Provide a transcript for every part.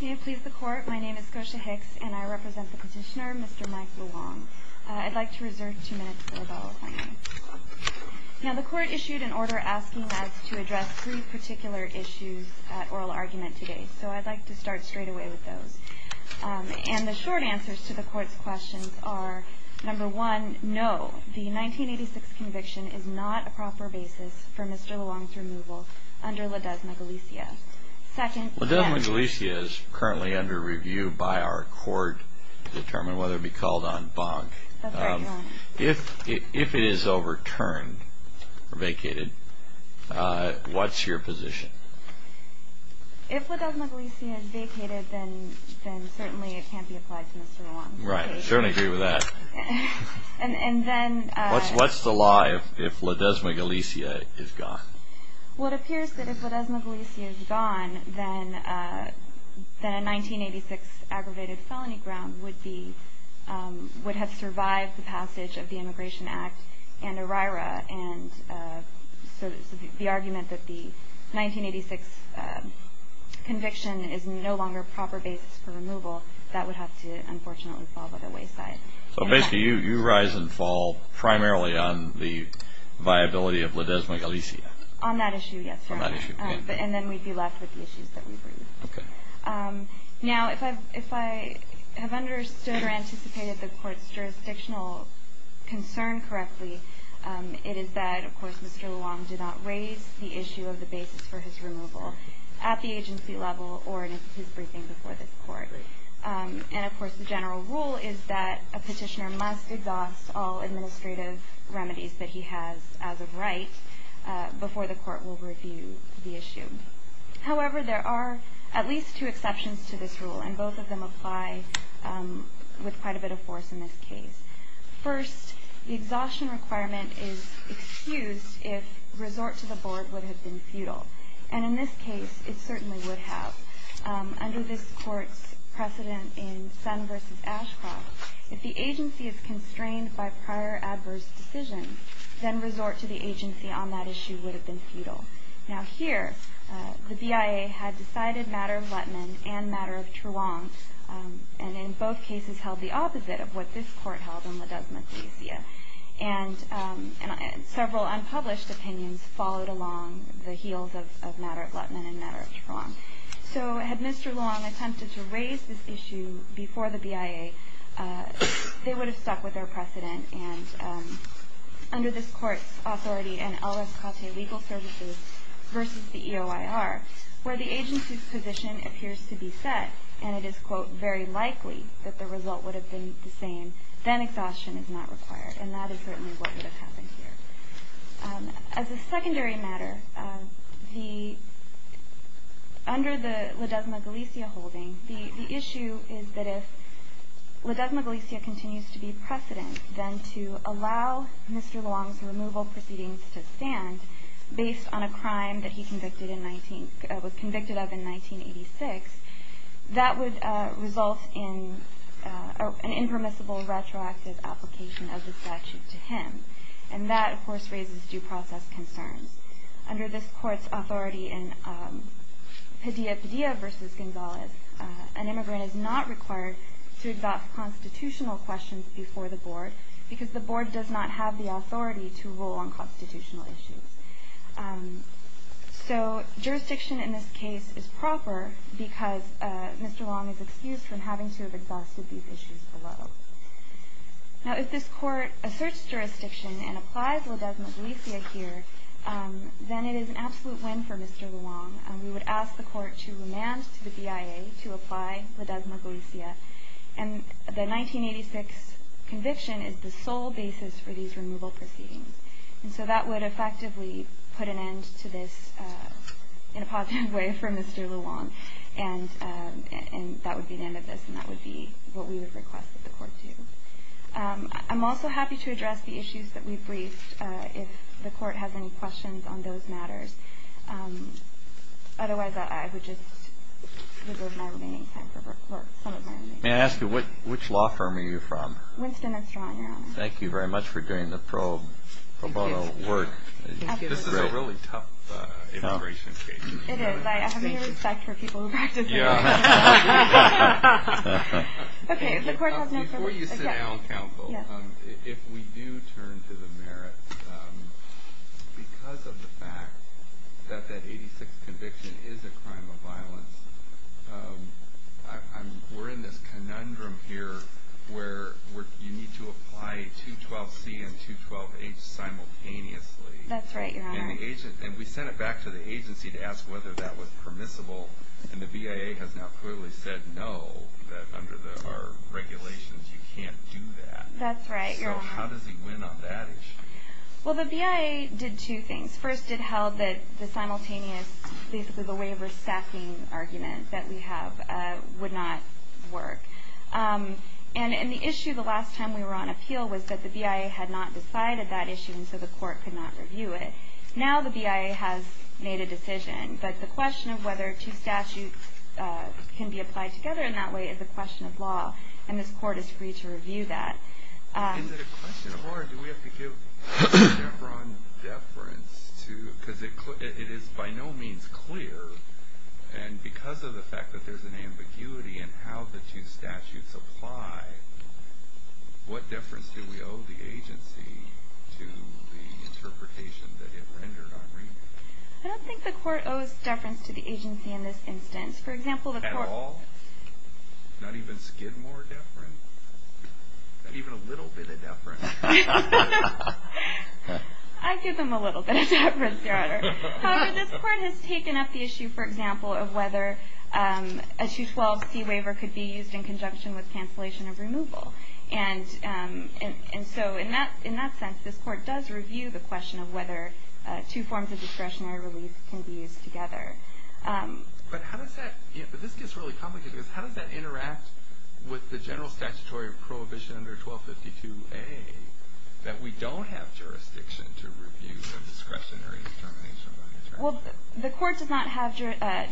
Do you please the court? My name is Kosha Hicks, and I represent the petitioner, Mr. Mike Luong. I'd like to reserve two minutes for the following. Now, the court issued an order asking us to address three particular issues at oral argument today, so I'd like to start straight away with those. And the short answers to the court's questions are, number one, no, the 1986 conviction is not a proper basis for Mr. Luong's removal under Ladezna Galicia. Ladezna Galicia is currently under review by our court to determine whether it be called on bonk. If it is overturned or vacated, what's your position? If Ladezna Galicia is vacated, then certainly it can't be applied to Mr. Luong. Right. I certainly agree with that. What's the lie if Ladezna Galicia is gone? Well, it appears that if Ladezna Galicia is gone, then a 1986 aggravated felony ground would have survived the passage of the Immigration Act and ERIRA, and so the argument that the 1986 conviction is no longer a proper basis for removal, that would have to unfortunately fall by the wayside. So basically you rise and fall primarily on the viability of Ladezna Galicia? On that issue, yes. On that issue. And then we'd be left with the issues that we've raised. Okay. Now, if I have understood or anticipated the court's jurisdictional concern correctly, it is that, of course, Mr. Luong did not raise the issue of the basis for his removal at the agency level or in his briefing before this court. I agree. And, of course, the general rule is that a petitioner must exhaust all administrative remedies that he has as a right before the court will review the issue. However, there are at least two exceptions to this rule, and both of them apply with quite a bit of force in this case. First, the exhaustion requirement is excused if resort to the board would have been futile, and in this case it certainly would have. Under this court's precedent in Son v. Ashcroft, if the agency is constrained by prior adverse decisions, then resort to the agency on that issue would have been futile. Now, here the BIA had decided matter of Lettman and matter of Truong, and in both cases held the opposite of what this court held on Ladezna Galicia. And several unpublished opinions followed along the heels of matter of Lettman and matter of Truong. So had Mr. Long attempted to raise this issue before the BIA, they would have stuck with their precedent. And under this court's authority in L.S. Caute Legal Services v. the EOIR, where the agency's position appears to be set, and it is, quote, very likely that the result would have been the same, then exhaustion is not required. And that is certainly what would have happened here. As a secondary matter, under the Ladezna Galicia holding, the issue is that if Ladezna Galicia continues to be precedent, then to allow Mr. Long's removal proceedings to stand based on a crime that he was convicted of in 1986, that would result in an impermissible retroactive application of the statute to him. And that, of course, raises due process concerns. Under this court's authority in Padilla Padilla v. Gonzalez, an immigrant is not required to address constitutional questions before the board because the board does not have the authority to rule on constitutional issues. So jurisdiction in this case is proper because Mr. Long is excused from having to address these issues below. Now, if this court asserts jurisdiction and applies Ladezna Galicia here, then it is an absolute win for Mr. Long. We would ask the court to remand to the BIA to apply Ladezna Galicia. And the 1986 conviction is the sole basis for these removal proceedings. And so that would effectively put an end to this in a positive way for Mr. Long. And that would be the end of this, and that would be what we would request that the court do. I'm also happy to address the issues that we've briefed if the court has any questions on those matters. Otherwise, I would just reserve my remaining time for some of my own. May I ask you, which law firm are you from? Winston and Strong, Your Honor. Thank you very much for doing the pro bono work. This is a really tough immigration case. It is. I have no respect for people who practice immigration. Before you sit down, counsel, if we do turn to the merits, because of the fact that that 1986 conviction is a crime of violence, we're in this conundrum here where you need to apply 212C and 212H simultaneously. That's right, Your Honor. And we sent it back to the agency to ask whether that was permissible, and the BIA has now clearly said no, that under our regulations you can't do that. That's right, Your Honor. So how does he win on that issue? Well, the BIA did two things. First, it held that the simultaneous, basically the waiver-stacking argument that we have would not work. And the issue the last time we were on appeal was that the BIA had not decided that issue, and so the court could not review it. Now the BIA has made a decision, but the question of whether two statutes can be applied together in that way is a question of law, and this court is free to review that. Is it a question of law, or do we have to give deference to, because it is by no means clear, and because of the fact that there's an ambiguity in how the two statutes apply, what deference do we owe the agency to the interpretation that it rendered on review? I don't think the court owes deference to the agency in this instance. At all? Not even Skidmore deference? Not even a little bit of deference? I give them a little bit of deference, Your Honor. However, this court has taken up the issue, for example, of whether a 212C waiver could be used in conjunction with cancellation of removal. And so in that sense, this court does review the question of whether two forms of discretionary relief can be used together. But how does that – this gets really complicated, because how does that interact with the general statutory prohibition under 1252A that we don't have jurisdiction to review the discretionary determination by attorney? Well, the court does not have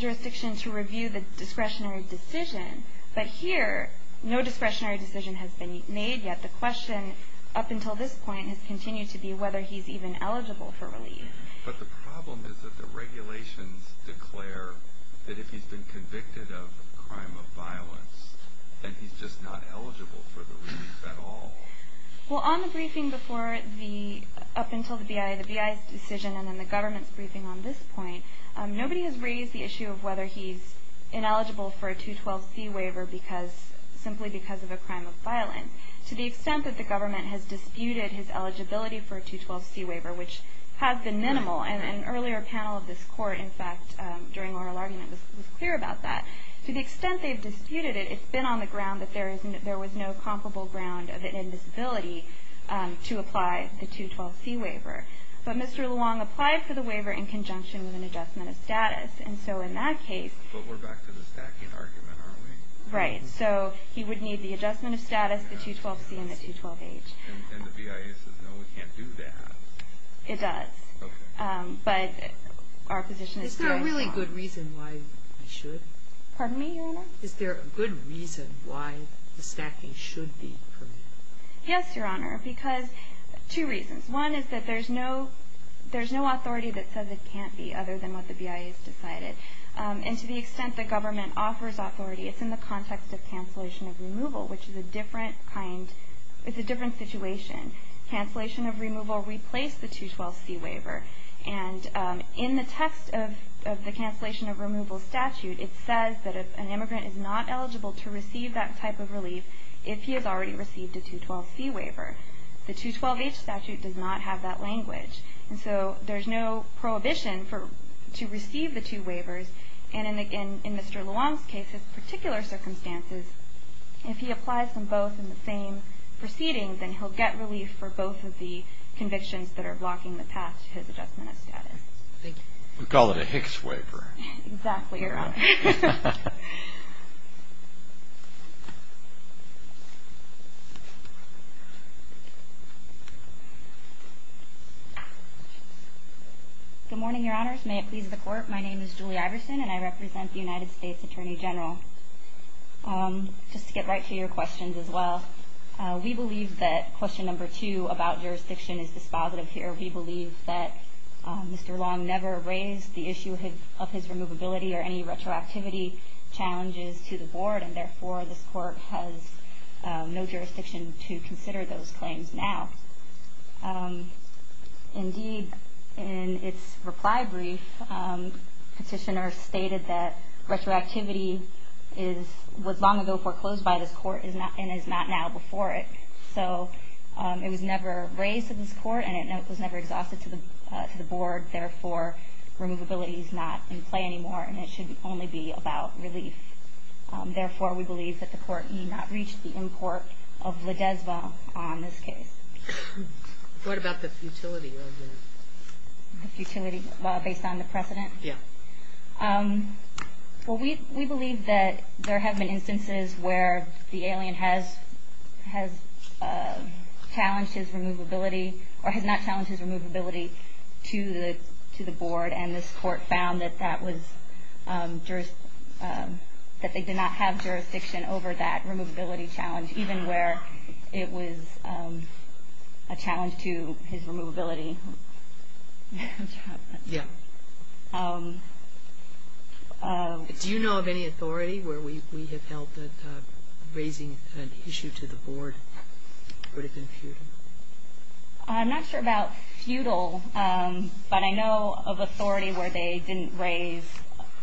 jurisdiction to review the discretionary decision. But here, no discretionary decision has been made yet. The question up until this point has continued to be whether he's even eligible for relief. But the problem is that the regulations declare that if he's been convicted of a crime of violence, then he's just not eligible for the relief at all. Well, on the briefing before the – up until the BIA, the BIA's decision, and then the government's briefing on this point, nobody has raised the issue of whether he's ineligible for a 212C waiver because – simply because of a crime of violence. To the extent that the government has disputed his eligibility for a 212C waiver, which has been minimal, and an earlier panel of this court, in fact, during oral argument, was clear about that. To the extent they've disputed it, it's been on the ground that there is – there was no comparable ground of an invisibility to apply the 212C waiver. But Mr. Luong applied for the waiver in conjunction with an adjustment of status. And so in that case – But we're back to the stacking argument, aren't we? Right. So he would need the adjustment of status, the 212C, and the 212H. And the BIA says, no, we can't do that. It does. Okay. But our position is – Is there a really good reason why we should? Pardon me, Your Honor? Is there a good reason why the stacking should be permitted? Yes, Your Honor, because – two reasons. One is that there's no – there's no authority that says it can't be other than what the BIA has decided. And to the extent the government offers authority, it's in the context of cancellation of removal, which is a different kind – it's a different situation. Cancellation of removal replaced the 212C waiver. And in the text of the cancellation of removal statute, it says that an immigrant is not eligible to receive that type of relief if he has already received a 212C waiver. The 212H statute does not have that language. And so there's no prohibition for – to receive the two waivers. And in Mr. Luong's case, his particular circumstances, if he applies them both in the same proceeding, then he'll get relief for both of the convictions that are blocking the path to his adjustment of status. Thank you. We call it a Hicks waiver. Exactly, Your Honor. Good morning, Your Honors. May it please the Court, my name is Julie Iverson, and I represent the United States Attorney General. Just to get right to your questions as well, we believe that question number two about jurisdiction is dispositive here. We believe that Mr. Luong never raised the issue of his removability or any retroactivity challenges to the Board, and therefore this Court has no jurisdiction to consider those claims now. Indeed, in its reply brief, Petitioner stated that retroactivity was long ago foreclosed by this Court and is not now before it. So it was never raised to this Court and it was never exhausted to the Board, therefore removability is not in play anymore and it should only be about relief. Therefore, we believe that the Court need not reach the end court of Ledesma on this case. What about the futility of it? The futility, well, based on the precedent? Yeah. Well, we believe that there have been instances where the alien has challenged his removability or has not challenged his removability to the Board, and this Court found that they did not have jurisdiction over that removability challenge, even where it was a challenge to his removability. Yeah. Do you know of any authority where we have held that raising an issue to the Board would have been futile? I'm not sure about futile, but I know of authority where they didn't raise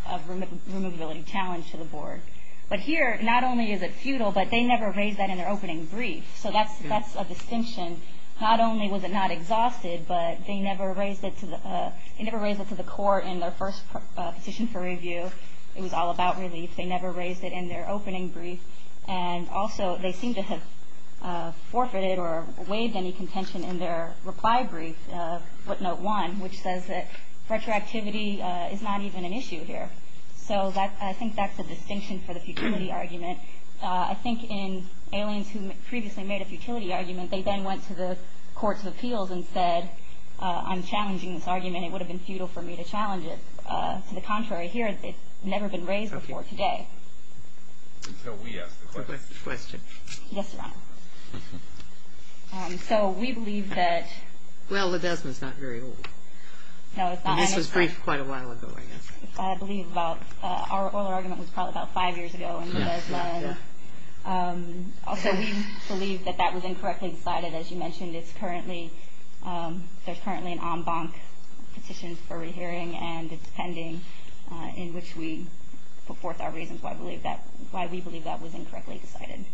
a removability challenge to the Board. But here, not only is it futile, but they never raised that in their opening brief. So that's a distinction. Not only was it not exhausted, but they never raised it to the Court in their first position for review. It was all about relief. They never raised it in their opening brief. And also, they seem to have forfeited or waived any contention in their reply brief, footnote 1, which says that retroactivity is not even an issue here. So I think that's a distinction for the futility argument. I think in aliens who previously made a futility argument, they then went to the courts of appeals and said, I'm challenging this argument. It would have been futile for me to challenge it. To the contrary, here, it's never been raised before today. Until we ask the question. Yes, Your Honor. So we believe that. Well, Ledesma's not very old. No, it's not. This was briefed quite a while ago, I guess. I believe our oral argument was probably about five years ago. Also, we believe that that was incorrectly decided. As you mentioned, there's currently an en banc petition for rehearing, and it's pending in which we put forth our reasons why we believe that was incorrectly decided.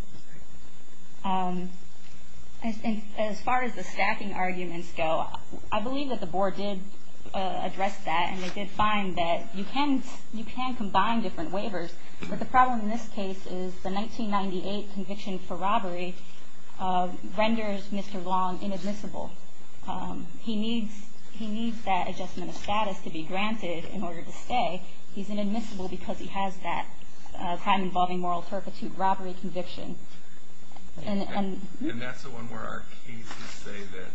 As far as the stacking arguments go, I believe that the Board did address that, and they did find that you can combine different waivers. But the problem in this case is the 1998 conviction for robbery renders Mr. Long inadmissible. He needs that adjustment of status to be granted in order to stay. He's inadmissible because he has that time-involving moral turpitude robbery conviction. And that's the one where our cases say that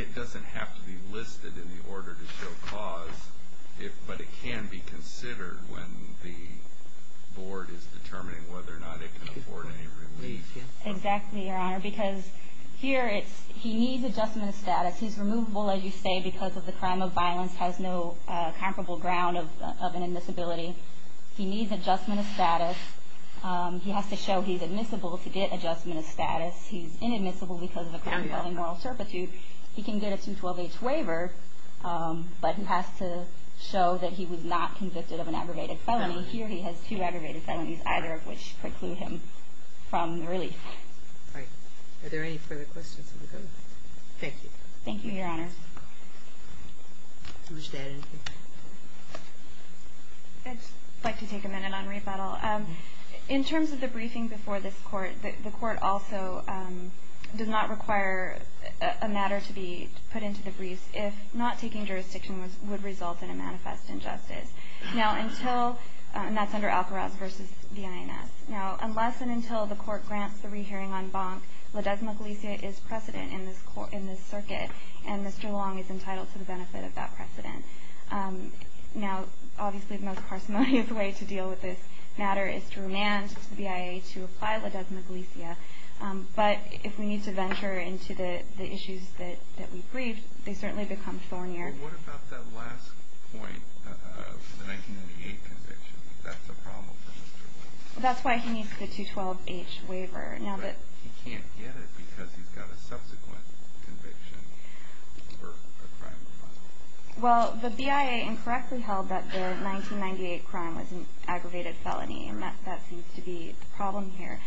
it doesn't have to be listed in the order to show cause, but it can be considered when the Board is determining whether or not it can afford any relief. Exactly, Your Honor, because here he needs adjustment of status. He's removable, as you say, because the crime of violence has no comparable ground of inadmissibility. He needs adjustment of status. He has to show he's admissible to get adjustment of status. He's inadmissible because of a time-involving moral turpitude. He can get a 212H waiver, but he has to show that he was not convicted of an aggravated felony. Here he has two aggravated felonies, either of which preclude him from relief. All right. Are there any further questions of the Court? Thank you. Thank you, Your Honor. I'd like to take a minute on rebuttal. In terms of the briefing before this Court, the Court also does not require a matter to be put into the briefs if not taking jurisdiction would result in a manifest injustice. Now, until, and that's under Alkaraz v. the INS. Now, unless and until the Court grants the rehearing on Bonk, Ledesma Galicia is precedent in this circuit, and Mr. Long is entitled to the benefit of that precedent. Now, obviously the most parsimonious way to deal with this matter is to remand to the BIA to apply Ledesma Galicia. But if we need to venture into the issues that we briefed, they certainly become thornier. Well, what about that last point of the 1998 conviction? That's a problem for Mr. Long. That's why he needs the 212H waiver. But he can't get it because he's got a subsequent conviction for a crime of violence. Well, the BIA incorrectly held that the 1998 crime was an aggravated felony, and that seems to be the problem here.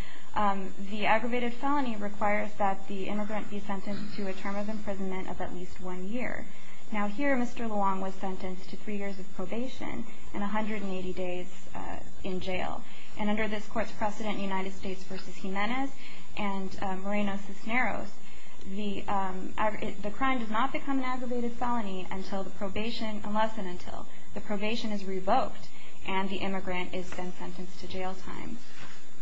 The aggravated felony requires that the immigrant be sentenced to a term of imprisonment of at least one year. Now, here Mr. Long was sentenced to three years of probation and 180 days in jail. And under this Court's precedent, United States v. Jimenez and Moreno-Cisneros, the crime does not become an aggravated felony unless and until the probation is revoked and the immigrant is then sentenced to jail time.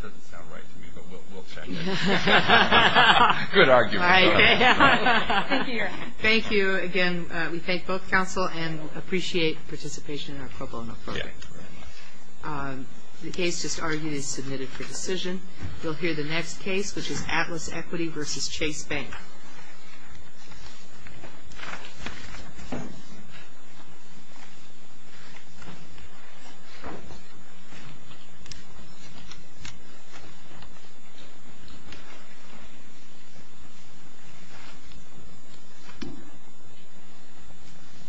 Doesn't sound right to me, but we'll check it. Good argument. Thank you, Your Honor. Thank you. Again, we thank both counsel and appreciate participation in our pro bono program. The case just argued is submitted for decision. You'll hear the next case, which is Atlas Equity v. Chase Bank.